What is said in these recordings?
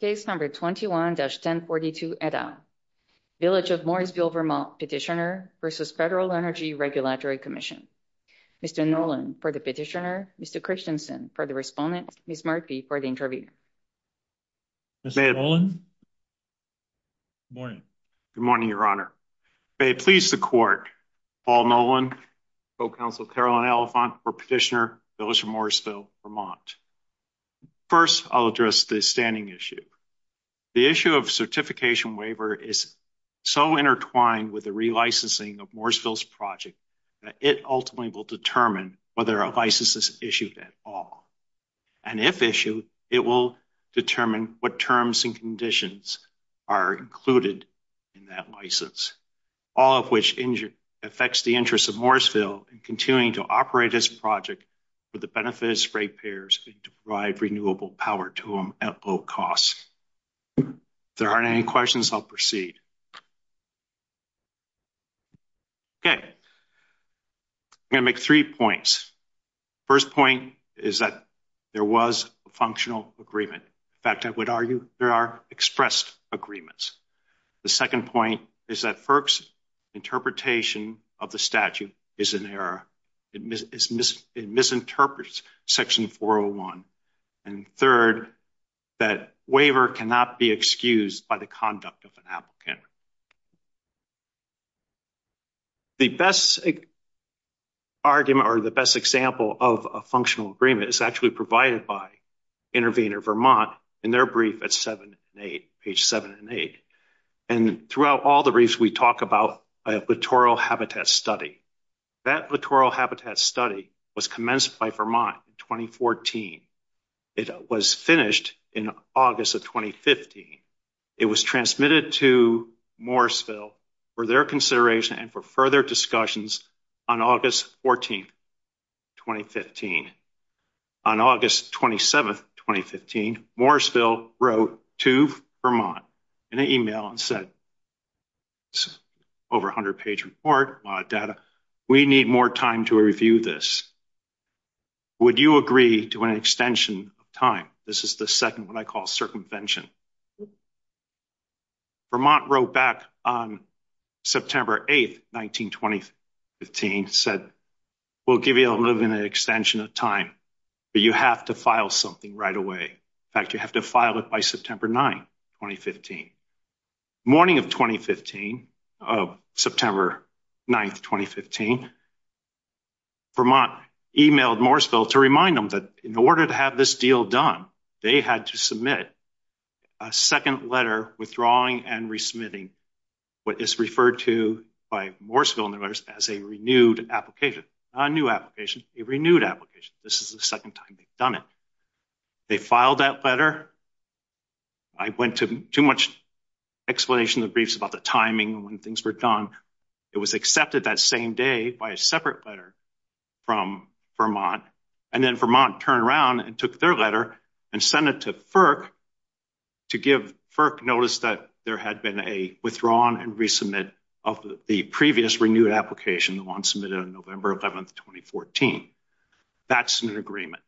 Case No. 21-1042, et al. Village of Morrisville, VT Petitioner v. Federal Energy Regulatory Commission Mr. Nolan for the Petitioner, Mr. Christensen for the Respondent, Ms. Murphy for the Interviewer. Mr. Nolan? Good morning. Good morning, Your Honor. May it please the Court, Paul Nolan, Co-Counsel Carolyn Elephant for Petitioner, Village of Morrisville, VT. First, I'll address the standing issue. The issue of certification waiver is so intertwined with the relicensing of Morrisville's project that it ultimately will determine whether a license is issued at all. And if issued, it will determine what terms and conditions are included in that license, all of which affects the interests of Morrisville in continuing to operate this project with the benefit of spray payers and to provide renewable power to them at low cost. If there aren't any questions, I'll proceed. Okay. I'm going to make three points. First point is that there was a functional agreement. In fact, I would argue there are expressed agreements. The second point is that FERC's interpretation of the statute is in error. It misinterprets Section 401. And third, that waiver cannot be excused by the conduct of an applicant. The best argument or the best example of a functional agreement is actually provided by Intervenor Vermont in their brief at 7 and 8, page 7 and 8. And throughout all the briefs, we talk about a littoral habitat study. That littoral habitat study was commenced by Vermont in 2014. It was finished in August of 2015. It was transmitted to Morrisville for their consideration and for further discussions on August 14, 2015. On August 27, 2015, Morrisville wrote to Vermont in an email and said, it's over a 100-page report, a lot of data. We need more time to review this. Would you agree to an extension of time? This is the second one I call circumvention. Vermont wrote back on September 8, 19, 2015, said, we'll give you a little bit of an extension of time, but you have to file something right away. In fact, you have to file it by September 9, 2015. Morning of September 9, 2015, Vermont emailed Morrisville to remind them that in order to have this deal done, they had to submit a second letter withdrawing and resubmitting what is referred to by Morrisville as a renewed application, not a new application, a renewed application. This is the second time they've done it. They filed that letter. I went to too much explanation in the briefs about the timing when things were done. It was accepted that same day by a separate letter from Vermont. And then Vermont turned around and took their letter and sent it to FERC to give FERC notice that there had been a withdrawing and resubmit of the previous renewed application, the one submitted on November 11, 2014. That's an agreement.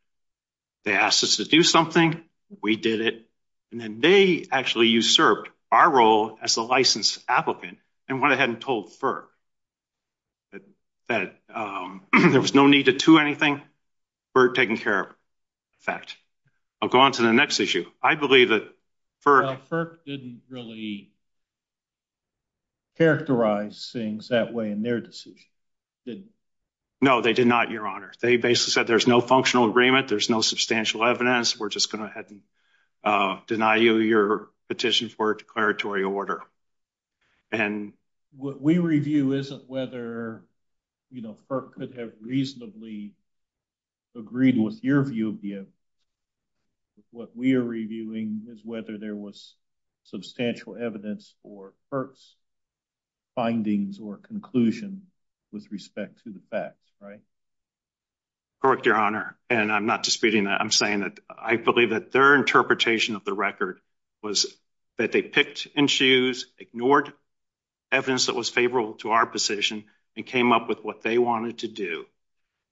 They asked us to do something. We did it. And then they actually usurped our role as a licensed applicant and went ahead and told FERC that there was no need to do anything. We're taking care of it. In fact, I'll go on to the next issue. I believe that FERC... FERC didn't really characterize things that way in their decision, did they? No, they did not, Your Honor. They basically said there's no functional agreement. There's no substantial evidence. We're just going to go ahead and deny you your petition for a declaratory order. And what we review isn't whether, you know, FERC could have reasonably agreed with your view of the evidence. What we are reviewing is whether there was substantial evidence for FERC's findings or conclusion with respect to the facts, right? Correct, Your Honor. And I'm not disputing that. I'm saying that I believe that their interpretation of the record was that they picked and choose, ignored evidence that was favorable to our position, and came up with what they wanted to do.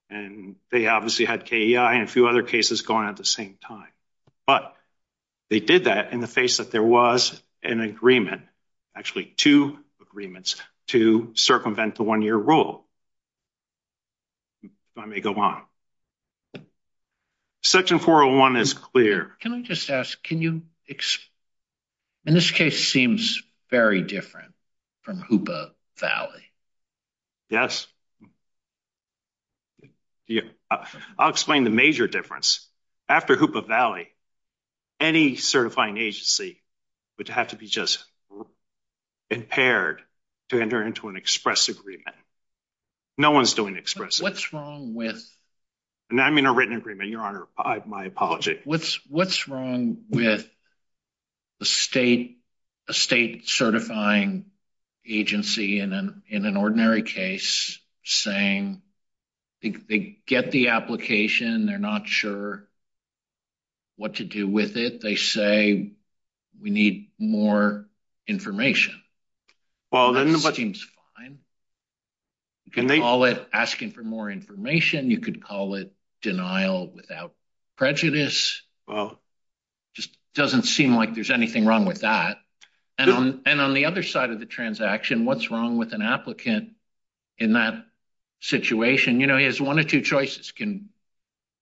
And they obviously had KEI and a few other cases going at the same time. But they did that in the face that there was an agreement, actually two agreements, to circumvent the one-year rule. I may go on. Section 401 is clear. Can I just ask, can you, in this case, seems very different from HOOPA Valley. Yes. I'll explain the major difference. After HOOPA Valley, any certifying agency would have to be just impaired to enter into an express agreement. No one's doing express. What's wrong with... And I mean a written agreement, Your Honor. My apology. What's wrong with a state certifying agency in an ordinary case saying they get the application, they're not sure what to do with it. They say we need more information. That seems fine. You could call it asking for more information. You could call it denial without prejudice. Just doesn't seem like there's anything wrong with that. And on the other side of the transaction, what's wrong with an applicant in that situation? You know, he has one of two choices, can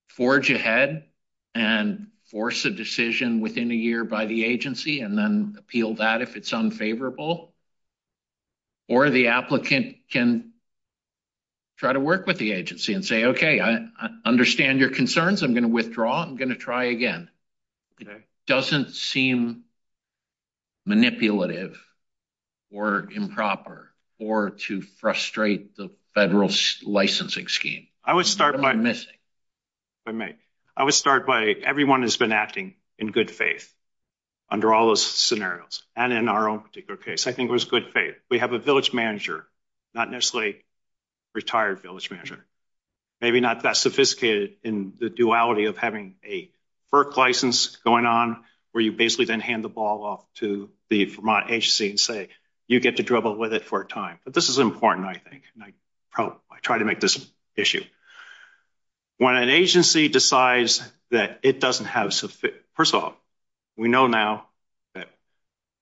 forge ahead and force a decision within a year by the agency and then appeal that if it's unfavorable, or the applicant can try to work with the agency and say, okay, I understand your concerns. I'm going to withdraw. I'm going to try again. It doesn't seem manipulative or improper or to frustrate the federal licensing scheme. I would start by... under all those scenarios. And in our own particular case, I think it was good faith. We have a village manager, not necessarily a retired village manager. Maybe not that sophisticated in the duality of having a FERC license going on where you basically then hand the ball off to the Vermont agency and say, you get to dribble with it for a time. But this is important, I think. I try to make this an issue. When an agency decides that it doesn't have sufficient... First of all, we know now that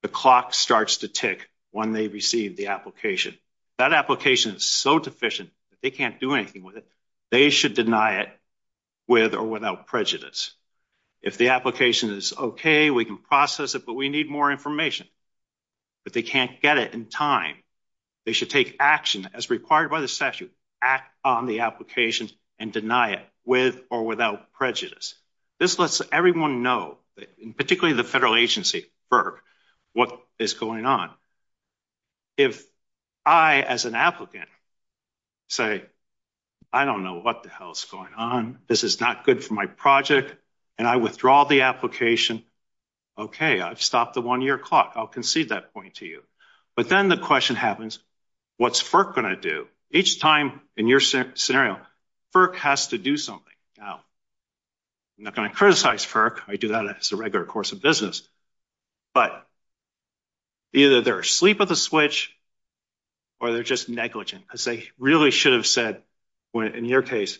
the clock starts to tick when they receive the application. That application is so deficient that they can't do anything with it. They should deny it with or without prejudice. If the application is okay, we can process it, but we need more information. But they can't get it in time. They should take action as required by the statute, act on the application, and deny it with or without prejudice. This lets everyone know, particularly the federal agency, FERC, what is going on. If I, as an applicant, say, I don't know what the hell is going on. This is not good for my project. And I withdraw the application. Okay, I've stopped the one-year clock. I'll concede that point to you. But then the question happens, what's FERC going to do? Each time in your scenario, FERC has to do something. Now, I'm not going to criticize FERC. I do that as a regular course of business. But either they're asleep at the switch, or they're just negligent. Because they really should have said, in your case,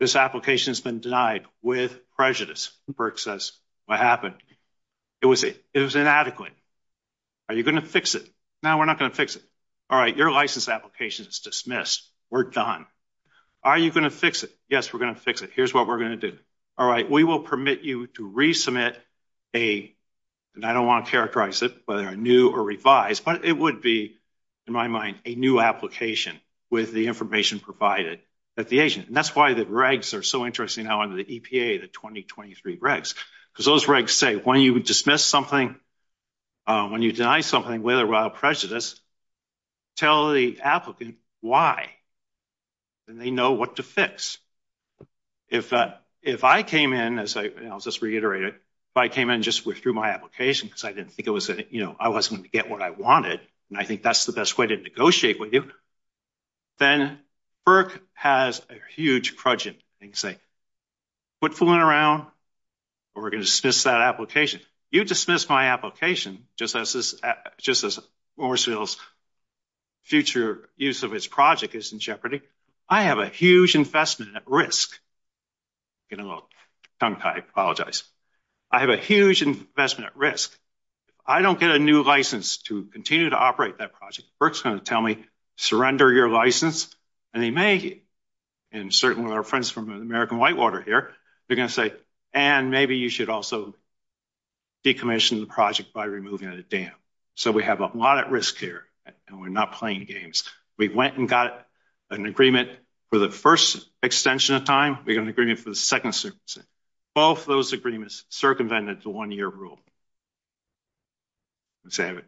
this application has been denied with prejudice. FERC says, what happened? It was inadequate. Are you going to fix it? No, we're not going to fix it. All right, your license application is dismissed. We're done. Are you going to fix it? Yes, we're going to fix it. Here's what we're going to do. All right, we will permit you to resubmit a, and I don't want to characterize it, whether a new or revised, but it would be, in my mind, a new application with the information provided at the agent. And that's why the regs are so interesting now under the EPA, the 2023 regs. Because those regs say, when you dismiss something, when you deny something with or without prejudice, tell the applicant why, and they know what to fix. If I came in, as I just reiterated, if I came in and just withdrew my application because I didn't think it was, you know, I wasn't going to get what I wanted, and I think that's the best way to negotiate with you, then FERC has a huge prudgent. They can say, quit fooling around, or we're going to dismiss that application. You dismiss my application just as Morrisville's future use of its project is in jeopardy. I have a huge investment at risk. I'm getting a little tongue-tied. I apologize. I have a huge investment at risk. If I don't get a new license to continue to operate that project, FERC's going to tell me, surrender your license, and they may, and certainly our friends from American Whitewater here, they're going to say, and maybe you should also decommission the project by removing the dam. So we have a lot at risk here, and we're not playing games. We went and got an agreement for the first extension of time. We got an agreement for the second extension. Both those agreements circumvented the one-year rule. So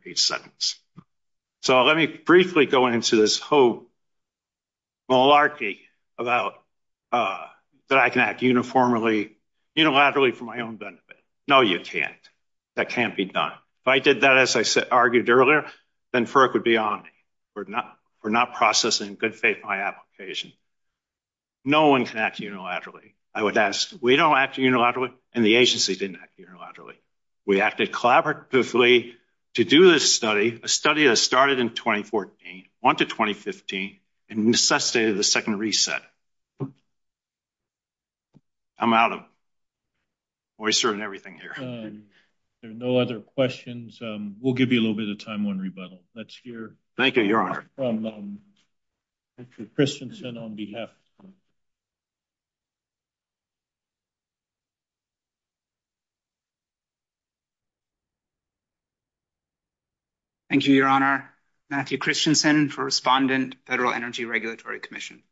let me briefly go into this whole malarkey about that I can act unilaterally for my own benefit. No, you can't. That can't be done. If I did that as I argued earlier, then FERC would be on me for not processing in good faith my application. No one can act unilaterally. I would ask, we don't act unilaterally, and the agency didn't act unilaterally. We acted collaboratively to do this study, a study that started in 2014, went to 2015, and necessitated the second reset. I'm out of oyster and everything here. There are no other questions. We'll give you a little bit of time on rebuttal. Let's hear from Matthew Christensen on behalf. Thank you, Your Honor. Matthew Christensen for Respondent, Federal Energy Regulatory Commission.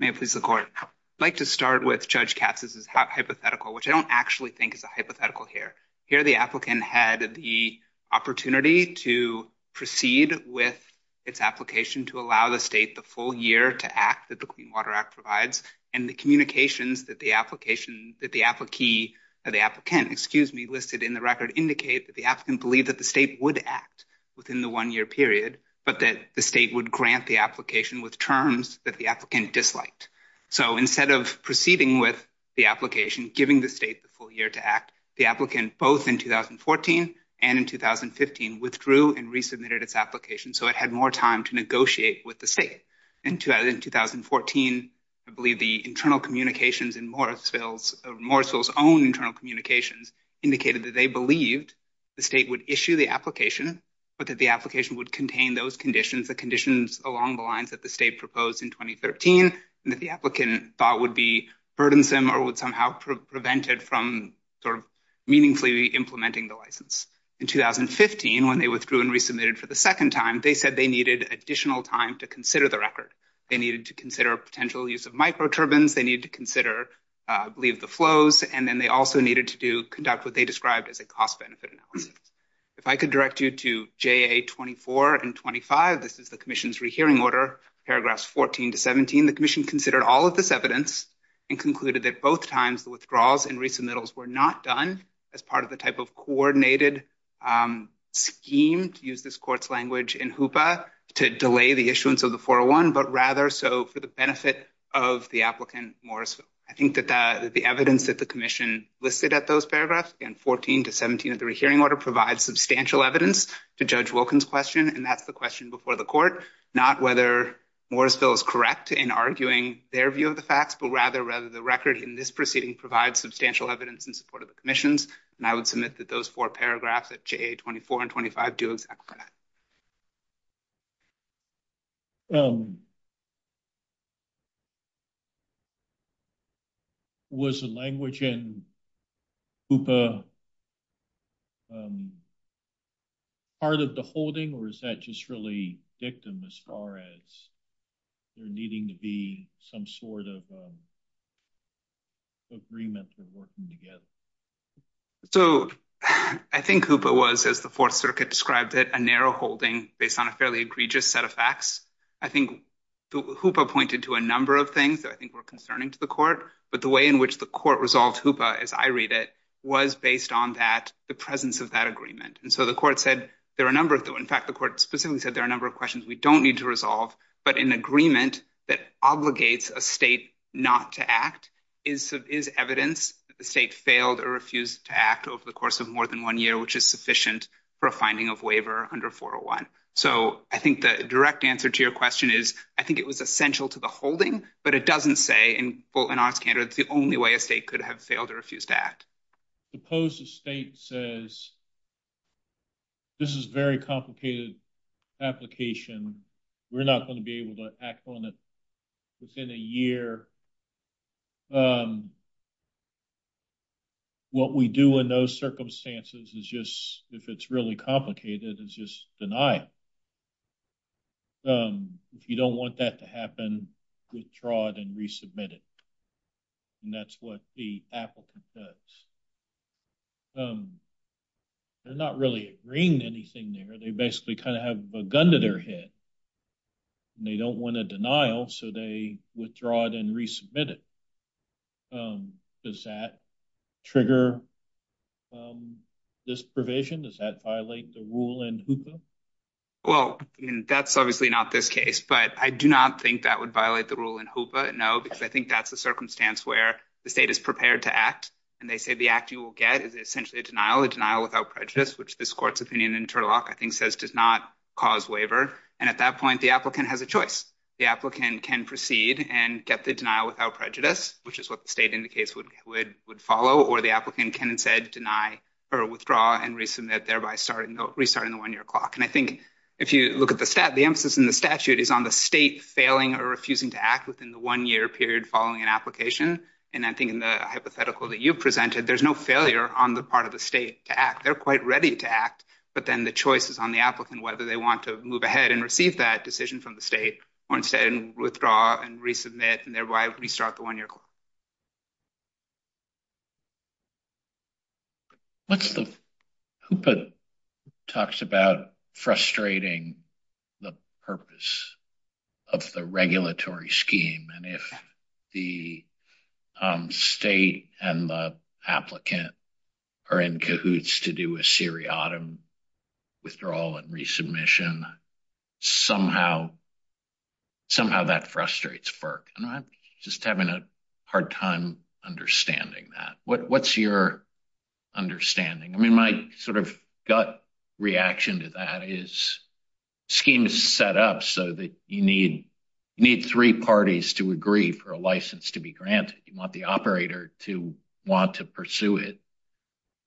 May it please the Court. I'd like to start with Judge Katz. This is hypothetical, which I don't actually think is a hypothetical here. Here the applicant had the opportunity to proceed with its application to allow the state the full year to act that the Clean Water Act provides, and the communications that the applicant listed in the record indicate that the applicant believed that the state would act within the one-year period, but that the state would grant the application with terms that the applicant disliked. So instead of proceeding with the application, giving the state the full year to act, the applicant, both in 2014 and in 2015, withdrew and resubmitted its application, so it had more time to negotiate with the state. In 2014, I believe the internal communications in Morrisville's own internal communications indicated that they believed the state would issue the application, but that the application would contain those conditions, the conditions along the lines that the state proposed in 2013, and that the applicant thought would be burdensome or would somehow prevent it from sort of meaningfully implementing the license. In 2015, when they withdrew and resubmitted for the second time, they said they needed additional time to consider the record. They needed to consider potential use of microturbines. They needed to consider, I believe, the flows, and then they also needed to conduct what they described as a cost-benefit analysis. If I could direct you to JA24 and 25, this is the commission's rehearing order, paragraphs 14 to 17. The commission considered all of this evidence and concluded that both times the withdrawals and resubmittals were not done as part of the type of coordinated scheme, to use this court's language in HOOPA, to delay the issuance of the 401, but rather so for the benefit of the applicant, Morrisville. I think that the evidence that the commission listed at those paragraphs, again, 14 to 17 of the rehearing order, provides substantial evidence to Judge Wilkins' question, and that's the question before the court, not whether Morrisville is correct in arguing their view of the facts, but rather whether the record in this proceeding provides substantial evidence in support of the commission's, and I would submit that those four paragraphs at JA24 and 25 do exactly that. Was the language in HOOPA part of the holding, or is that just really dictum as far as there needing to be some sort of agreement or working together? So I think HOOPA was, as the Fourth Circuit described it, a narrow holding based on a fairly egregious set of facts. I think HOOPA pointed to a number of things that I think were concerning to the court, but the way in which the court resolved HOOPA, as I read it, was based on that, the presence of that agreement. And so the court said there are a number of, in fact, the court specifically said there are a number of questions we don't need to resolve, but an agreement that obligates a state not to act is evidence that the state failed or refused to act over the course of more than one year, which is sufficient for a finding of waiver under 401. So I think the direct answer to your question is I think it was essential to the holding, but it doesn't say in arts candor it's the only way a state could have failed or refused to act. Suppose the state says this is a very complicated application. We're not going to be able to act on it within a year. What we do in those circumstances is just, if it's really complicated, is just deny it. If you don't want that to happen, withdraw it and resubmit it. And that's what the applicant does. They're not really agreeing to anything there. They basically kind of have a gun to their head. They don't want a denial, so they withdraw it and resubmit it. Does that trigger this provision? Does that violate the rule in HOOPA? Well, that's obviously not this case, but I do not think that would violate the rule in HOOPA, no, because I think that's a circumstance where the state is prepared to act, and they say the act you will get is essentially a denial, a denial without prejudice, which this court's opinion in Turlock, I think, says does not cause waiver. And at that point, the applicant has a choice. The applicant can proceed and get the denial without prejudice, which is what the state indicates would follow, or the applicant can instead deny or withdraw and resubmit, thereby restarting the one-year clock. And I think if you look at the statute, the emphasis in the statute is on the state failing or refusing to act within the one-year period following an application. And I think in the hypothetical that you presented, there's no failure on the part of the state to act. They're quite ready to act, but then the choice is on the applicant whether they want to move ahead and receive that decision from the state or instead withdraw and resubmit and thereby restart the one-year clock. What's the – HOOPA talks about frustrating the purpose of the regulatory scheme, and if the state and the applicant are in cahoots to do a seriatim withdrawal and resubmission, somehow that frustrates FERC. I'm just having a hard time understanding that. What's your understanding? I mean, my sort of gut reaction to that is the scheme is set up so that you need three parties to agree for a license to be granted. You want the operator to want to pursue it.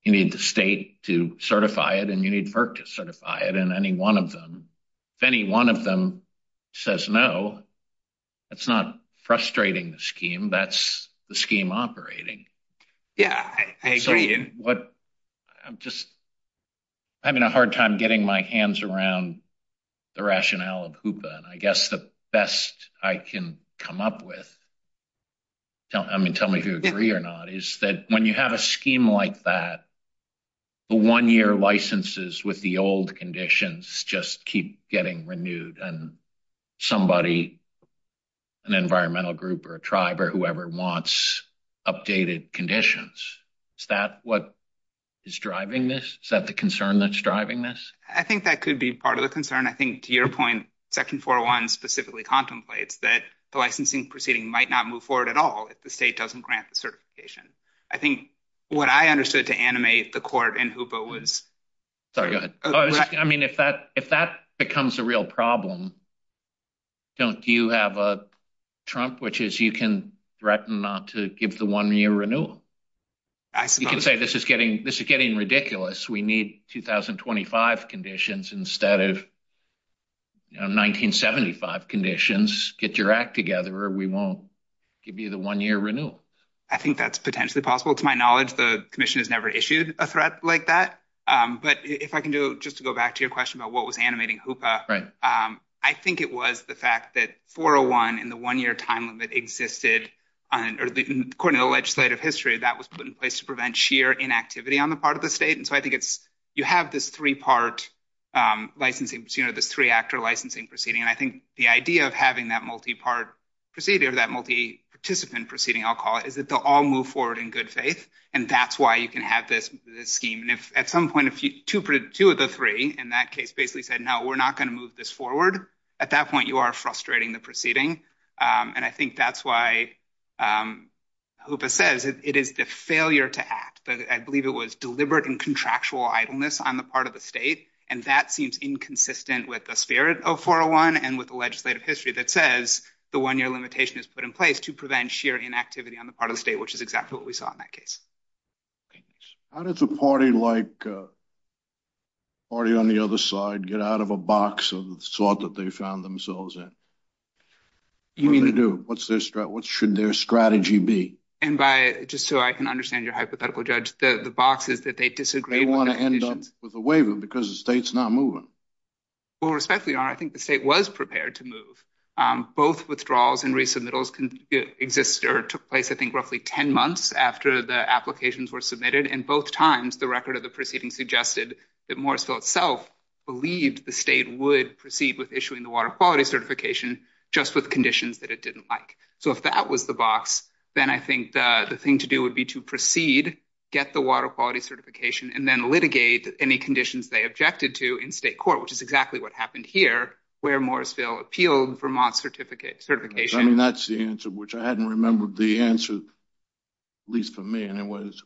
You need the state to certify it, and you need FERC to certify it, and any one of them, if any one of them says no, that's not frustrating the scheme. That's the scheme operating. Yeah, I agree. I'm just having a hard time getting my hands around the rationale of HOOPA, and I guess the best I can come up with – I mean, tell me if you agree or not – is that when you have a scheme like that, the one-year licenses with the old conditions just keep getting renewed and somebody, an environmental group or a tribe or whoever, wants updated conditions. Is that what is driving this? Is that the concern that's driving this? I think that could be part of the concern. I think, to your point, Section 401 specifically contemplates that the licensing proceeding might not move forward at all if the state doesn't grant the certification. I think what I understood to animate the court in HOOPA was – Sorry, go ahead. I mean, if that becomes a real problem, don't you have a trump, which is you can threaten not to give the one-year renewal? You can say this is getting ridiculous. We need 2025 conditions instead of 1975 conditions. Get your act together or we won't give you the one-year renewal. I think that's potentially possible. To my knowledge, the commission has never issued a threat like that. But if I can just go back to your question about what was animating HOOPA, I think it was the fact that 401 and the one-year time limit existed. According to the legislative history, that was put in place to prevent sheer inactivity on the part of the state. So I think you have this three-part licensing, this three-actor licensing proceeding. I think the idea of having that multi-part proceeding or that multi-participant proceeding, I'll call it, is that they'll all move forward in good faith, and that's why you can have this scheme. And if at some point two of the three in that case basically said, no, we're not going to move this forward, at that point you are frustrating the proceeding. And I think that's why HOOPA says it is the failure to act. I believe it was deliberate and contractual idleness on the part of the state, and that seems inconsistent with the spirit of 401 and with the legislative history that says the one-year limitation is put in place to prevent sheer inactivity on the part of the state, which is exactly what we saw in that case. How does a party like the party on the other side get out of a box of the sort that they found themselves in? What do they do? What should their strategy be? And just so I can understand your hypothetical, Judge, the box is that they disagree with the conditions. They want to end up with a waiver because the state's not moving. Well, respectfully, Your Honor, I think the state was prepared to move. Both withdrawals and resubmittals took place, I think, roughly 10 months after the applications were submitted, and both times the record of the proceeding suggested that Morrisville itself believed the state would proceed with issuing the water quality certification just with conditions that it didn't like. So if that was the box, then I think the thing to do would be to proceed, get the water quality certification, and then litigate any conditions they objected to in state court, which is exactly what happened here, where Morrisville appealed Vermont's certification. I mean, that's the answer, which I hadn't remembered the answer, at least for me, and it was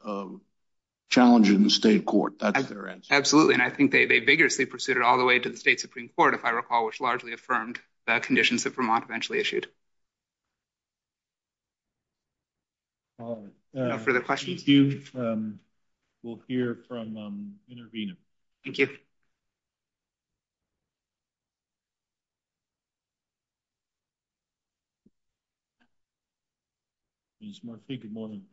challenging the state court. That's their answer. And I think they vigorously pursued it all the way to the state Supreme Court, if I recall, which largely affirmed the conditions that Vermont eventually issued. No further questions? We'll hear from Intervena. Thank you. Ms. Murphy, good morning.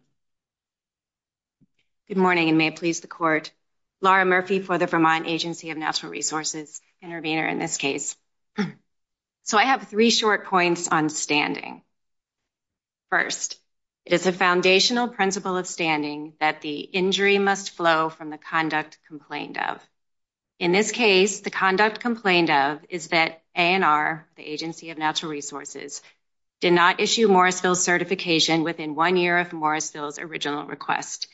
Good morning, and may it please the court. Laura Murphy for the Vermont Agency of Natural Resources, Intervena in this case. So I have three short points on standing. First, it is a foundational principle of standing that the injury must flow from the conduct complained of. In this case, the conduct complained of is that A&R, the agency of natural resources did not issue Morrisville certification within one year of Morrisville's original request.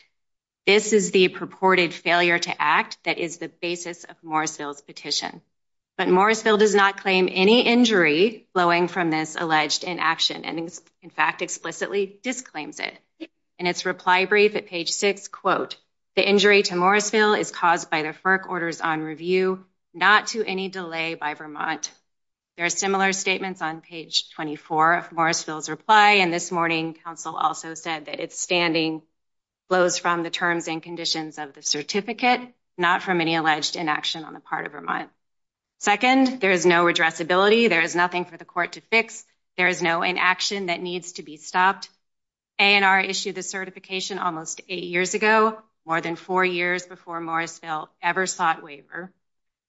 This is the purported failure to act. That is the basis of Morrisville's petition, but Morrisville does not claim any injury flowing from this alleged in action. And in fact, explicitly disclaims it and its reply brief at page six quote, the injury to Morrisville is caused by the FERC orders on review, not to any delay by Vermont. There are similar statements on page 24 of Morrisville's reply. And this morning council also said that it's standing flows from the terms and conditions of the certificate, not from any alleged inaction on the part of Vermont. Second, there is no addressability. There is nothing for the court to fix. There is no inaction that needs to be stopped. A&R issued the certification almost eight years ago, more than four years before Morrisville ever sought waiver.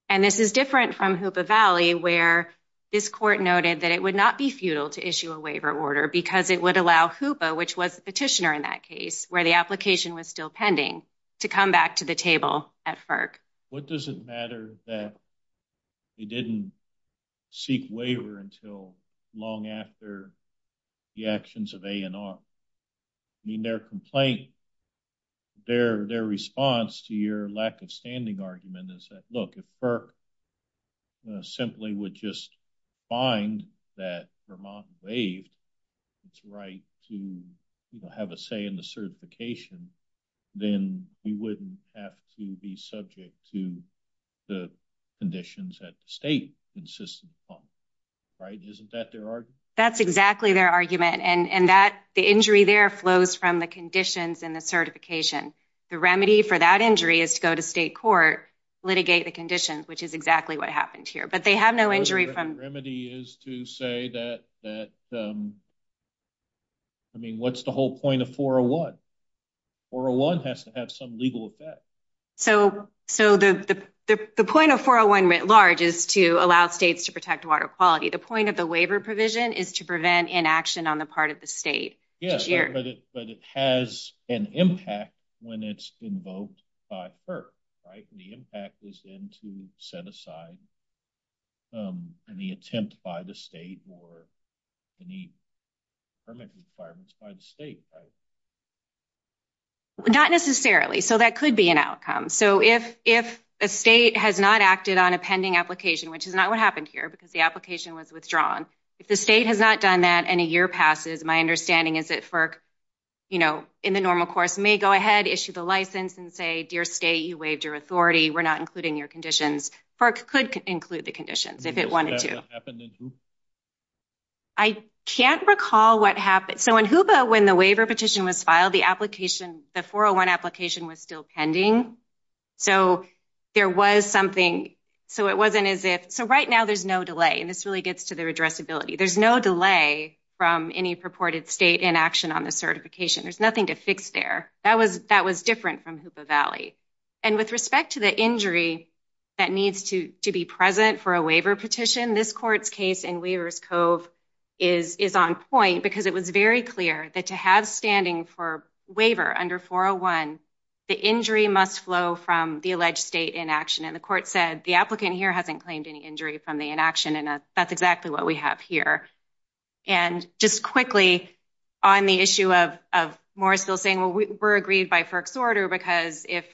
And this is different from Hoopa Valley, where this court noted that it would not be futile to issue a waiver order because it would allow Hoopa, which was the petitioner in that case where the application was still pending to come back to the table at FERC. What does it matter that it didn't seek waiver until long after the actions of A&R? I mean, their complaint, their, their response to your lack of standing argument is that, look, if FERC simply would just find that Vermont waived its right to have a say in the certification, then we wouldn't have to be subject to the conditions that the state insisted upon, right? Isn't that their argument? That's exactly their argument. And that the injury there flows from the conditions and the certification, the remedy for that injury is to go to state court, litigate the conditions, which is exactly what happened here, but they have no injury from. The remedy is to say that, that. I mean, what's the whole point of 401? 401 has to have some legal effect. So, so the, the, the, the point of 401 writ large is to allow states to protect water quality. The point of the waiver provision is to prevent inaction on the part of the state. Yes, but it has an impact when it's invoked by her, right? And the impact is then to set aside. And the attempt by the state or. The need. Permit requirements by the state, right? Not necessarily. So that could be an outcome. So if, if. A state has not acted on a pending application, which is not what happened here because the application was withdrawn. If the state has not done that and a year passes, my understanding is that FERC. You know, in the normal course may go ahead, issue the license and say, dear state, you waived your authority. We're not including your conditions. FERC could include the conditions if it wanted to. I can't recall what happened. So when HOOPA, when the waiver petition was filed, the application, the 401 application was still pending. So there was something. So it wasn't as if, so right now there's no delay. And this really gets to the addressability. There's no delay from any purported state inaction on the certification. There's nothing to fix there. That was, that was different from HOOPA Valley and with respect to the injury. That needs to be present for a waiver petition. This court's case in Weaver's Cove is, is on point because it was very clear that to have standing for waiver under 401. The injury must flow from the alleged state inaction. And the court said the applicant here hasn't claimed any injury from the state inaction. And that's exactly what we have here. And just quickly on the issue of, of Morrisville saying, well, we were agreed by FERC's order, because if,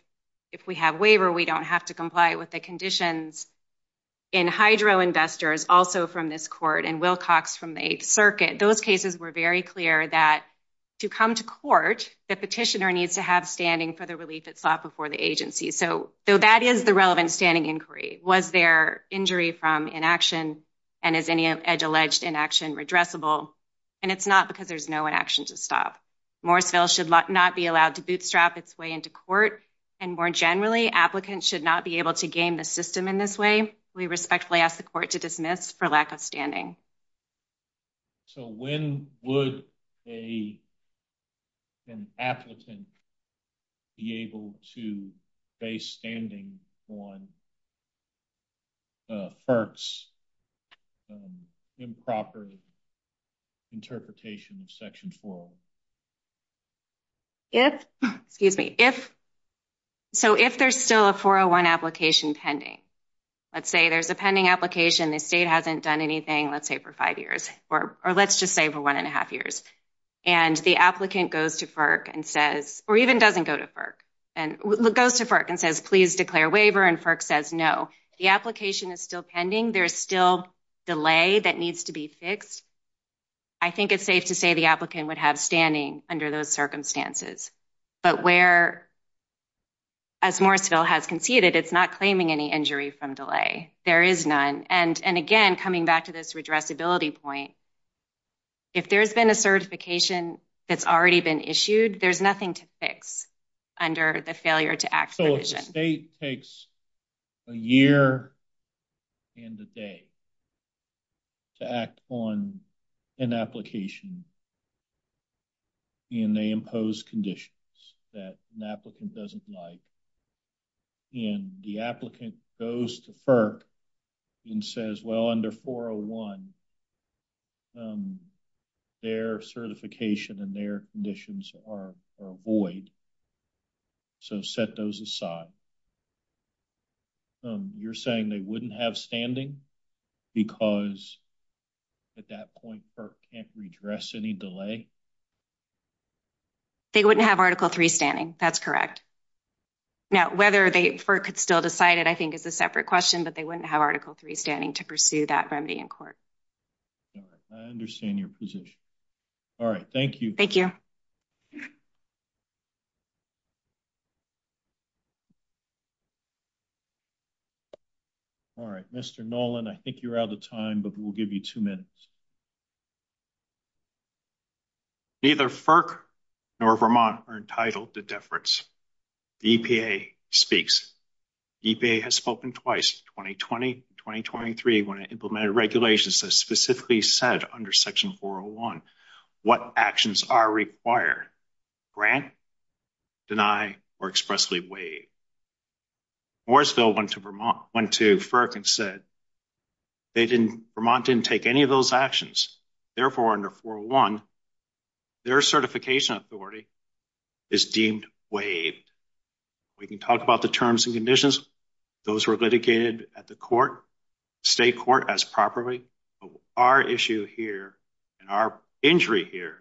if we have waiver, we don't have to comply with the conditions in hydro investors also from this court and Wilcox from the eighth circuit, those cases were very clear that to come to court, the petitioner needs to have standing for the relief it sought before the agency. So, so that is the relevant standing inquiry. Was there injury from inaction and is any edge alleged inaction redressable? And it's not because there's no inaction to stop. Morrisville should not be allowed to bootstrap its way into court. And more generally applicants should not be able to gain the system in this way. We respectfully ask the court to dismiss for lack of standing. So when would a, an applicant be able to base standing on FERC's improper interpretation of section four? If, excuse me, if, so if there's still a 401 application pending, let's say there's a pending application. The state hasn't done anything, let's say for five years or, or let's just say for one and a half years. And the applicant goes to FERC and says, or even doesn't go to FERC. And it goes to FERC and says, please declare waiver. And FERC says, no, the application is still pending. There's still delay that needs to be fixed. I think it's safe to say the applicant would have standing under those circumstances, but where, as Morrisville has conceded, it's not claiming any injury from delay. There is none. And, and again, coming back to this redressability point, if there's been a certification that's already been issued, there's nothing to fix under the failure to act. So the state takes a year and a day to act on an application and they impose conditions that an applicant doesn't like. And the applicant goes to FERC and says, well, under 401, um, their certification and their conditions are void. So set those aside. Um, you're saying they wouldn't have standing because at that point, FERC can't redress any delay. They wouldn't have article three standing. That's correct. Now, whether they could still decide it, I think is a separate question, but they wouldn't have article three standing to pursue that remedy in court. All right. I understand your position. All right. Thank you. Thank you. All right. Mr. Nolan, I think you're out of time, but we'll give you two minutes. Neither FERC nor Vermont are entitled to deference. EPA speaks. EPA has spoken twice, 2020, 2023, when it implemented regulations that specifically said under section 401, what actions are required, grant, deny, or expressly waive. Morrisville went to Vermont, went to FERC and said, they didn't, Vermont didn't take any of those actions. Therefore, under 401, their certification authority is deemed waived. We can talk about the terms and conditions. Those were litigated at the court, state court as properly. Our issue here and our injury here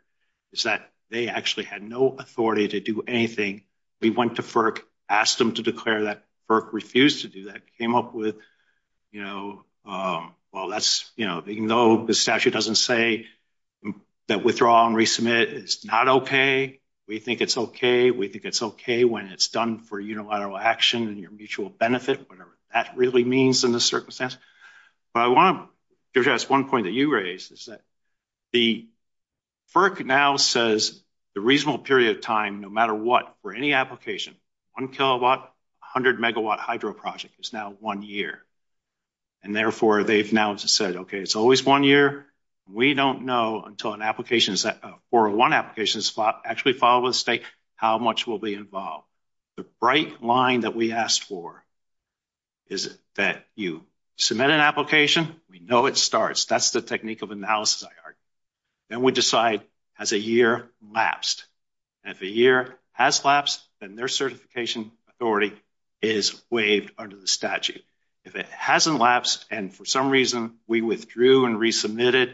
is that they actually had no authority to do anything. We went to FERC, asked them to declare that FERC refused to do that, came up with, you know, well, that's, you know, even though the statute doesn't say that withdraw and resubmit is not okay. We think it's okay. We think it's okay when it's done for unilateral action and your mutual benefit, whatever that really means in this circumstance. But I want to give you guys one point that you raised is that the FERC now says the reasonable period of time, no matter what, for any application, one kilowatt, a hundred megawatt hydro project is now one year. And therefore they've now said, okay, it's always one year. We don't know until an application is that a 401 application is actually filed with the state, how much will be involved. The bright line that we asked for is that you submit an application. We know it starts. That's the technique of analysis I argue. Then we decide has a year lapsed. And if a year has lapsed and their certification authority is waived under the statute, it hasn't lapsed. And for some reason we withdrew and resubmitted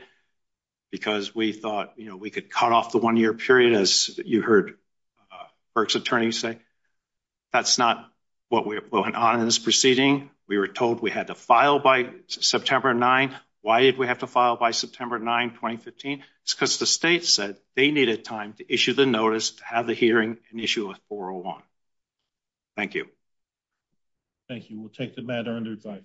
because we thought, you know, we could cut off the one year period as you heard FERC's attorney say, that's not what we're going on in this proceeding. We were told we had to file by September 9. Why did we have to file by September 9, 2015? It's because the state said they needed time to issue the notice, to have the hearing and issue a 401. Thank you. Thank you. We'll take the matter under review.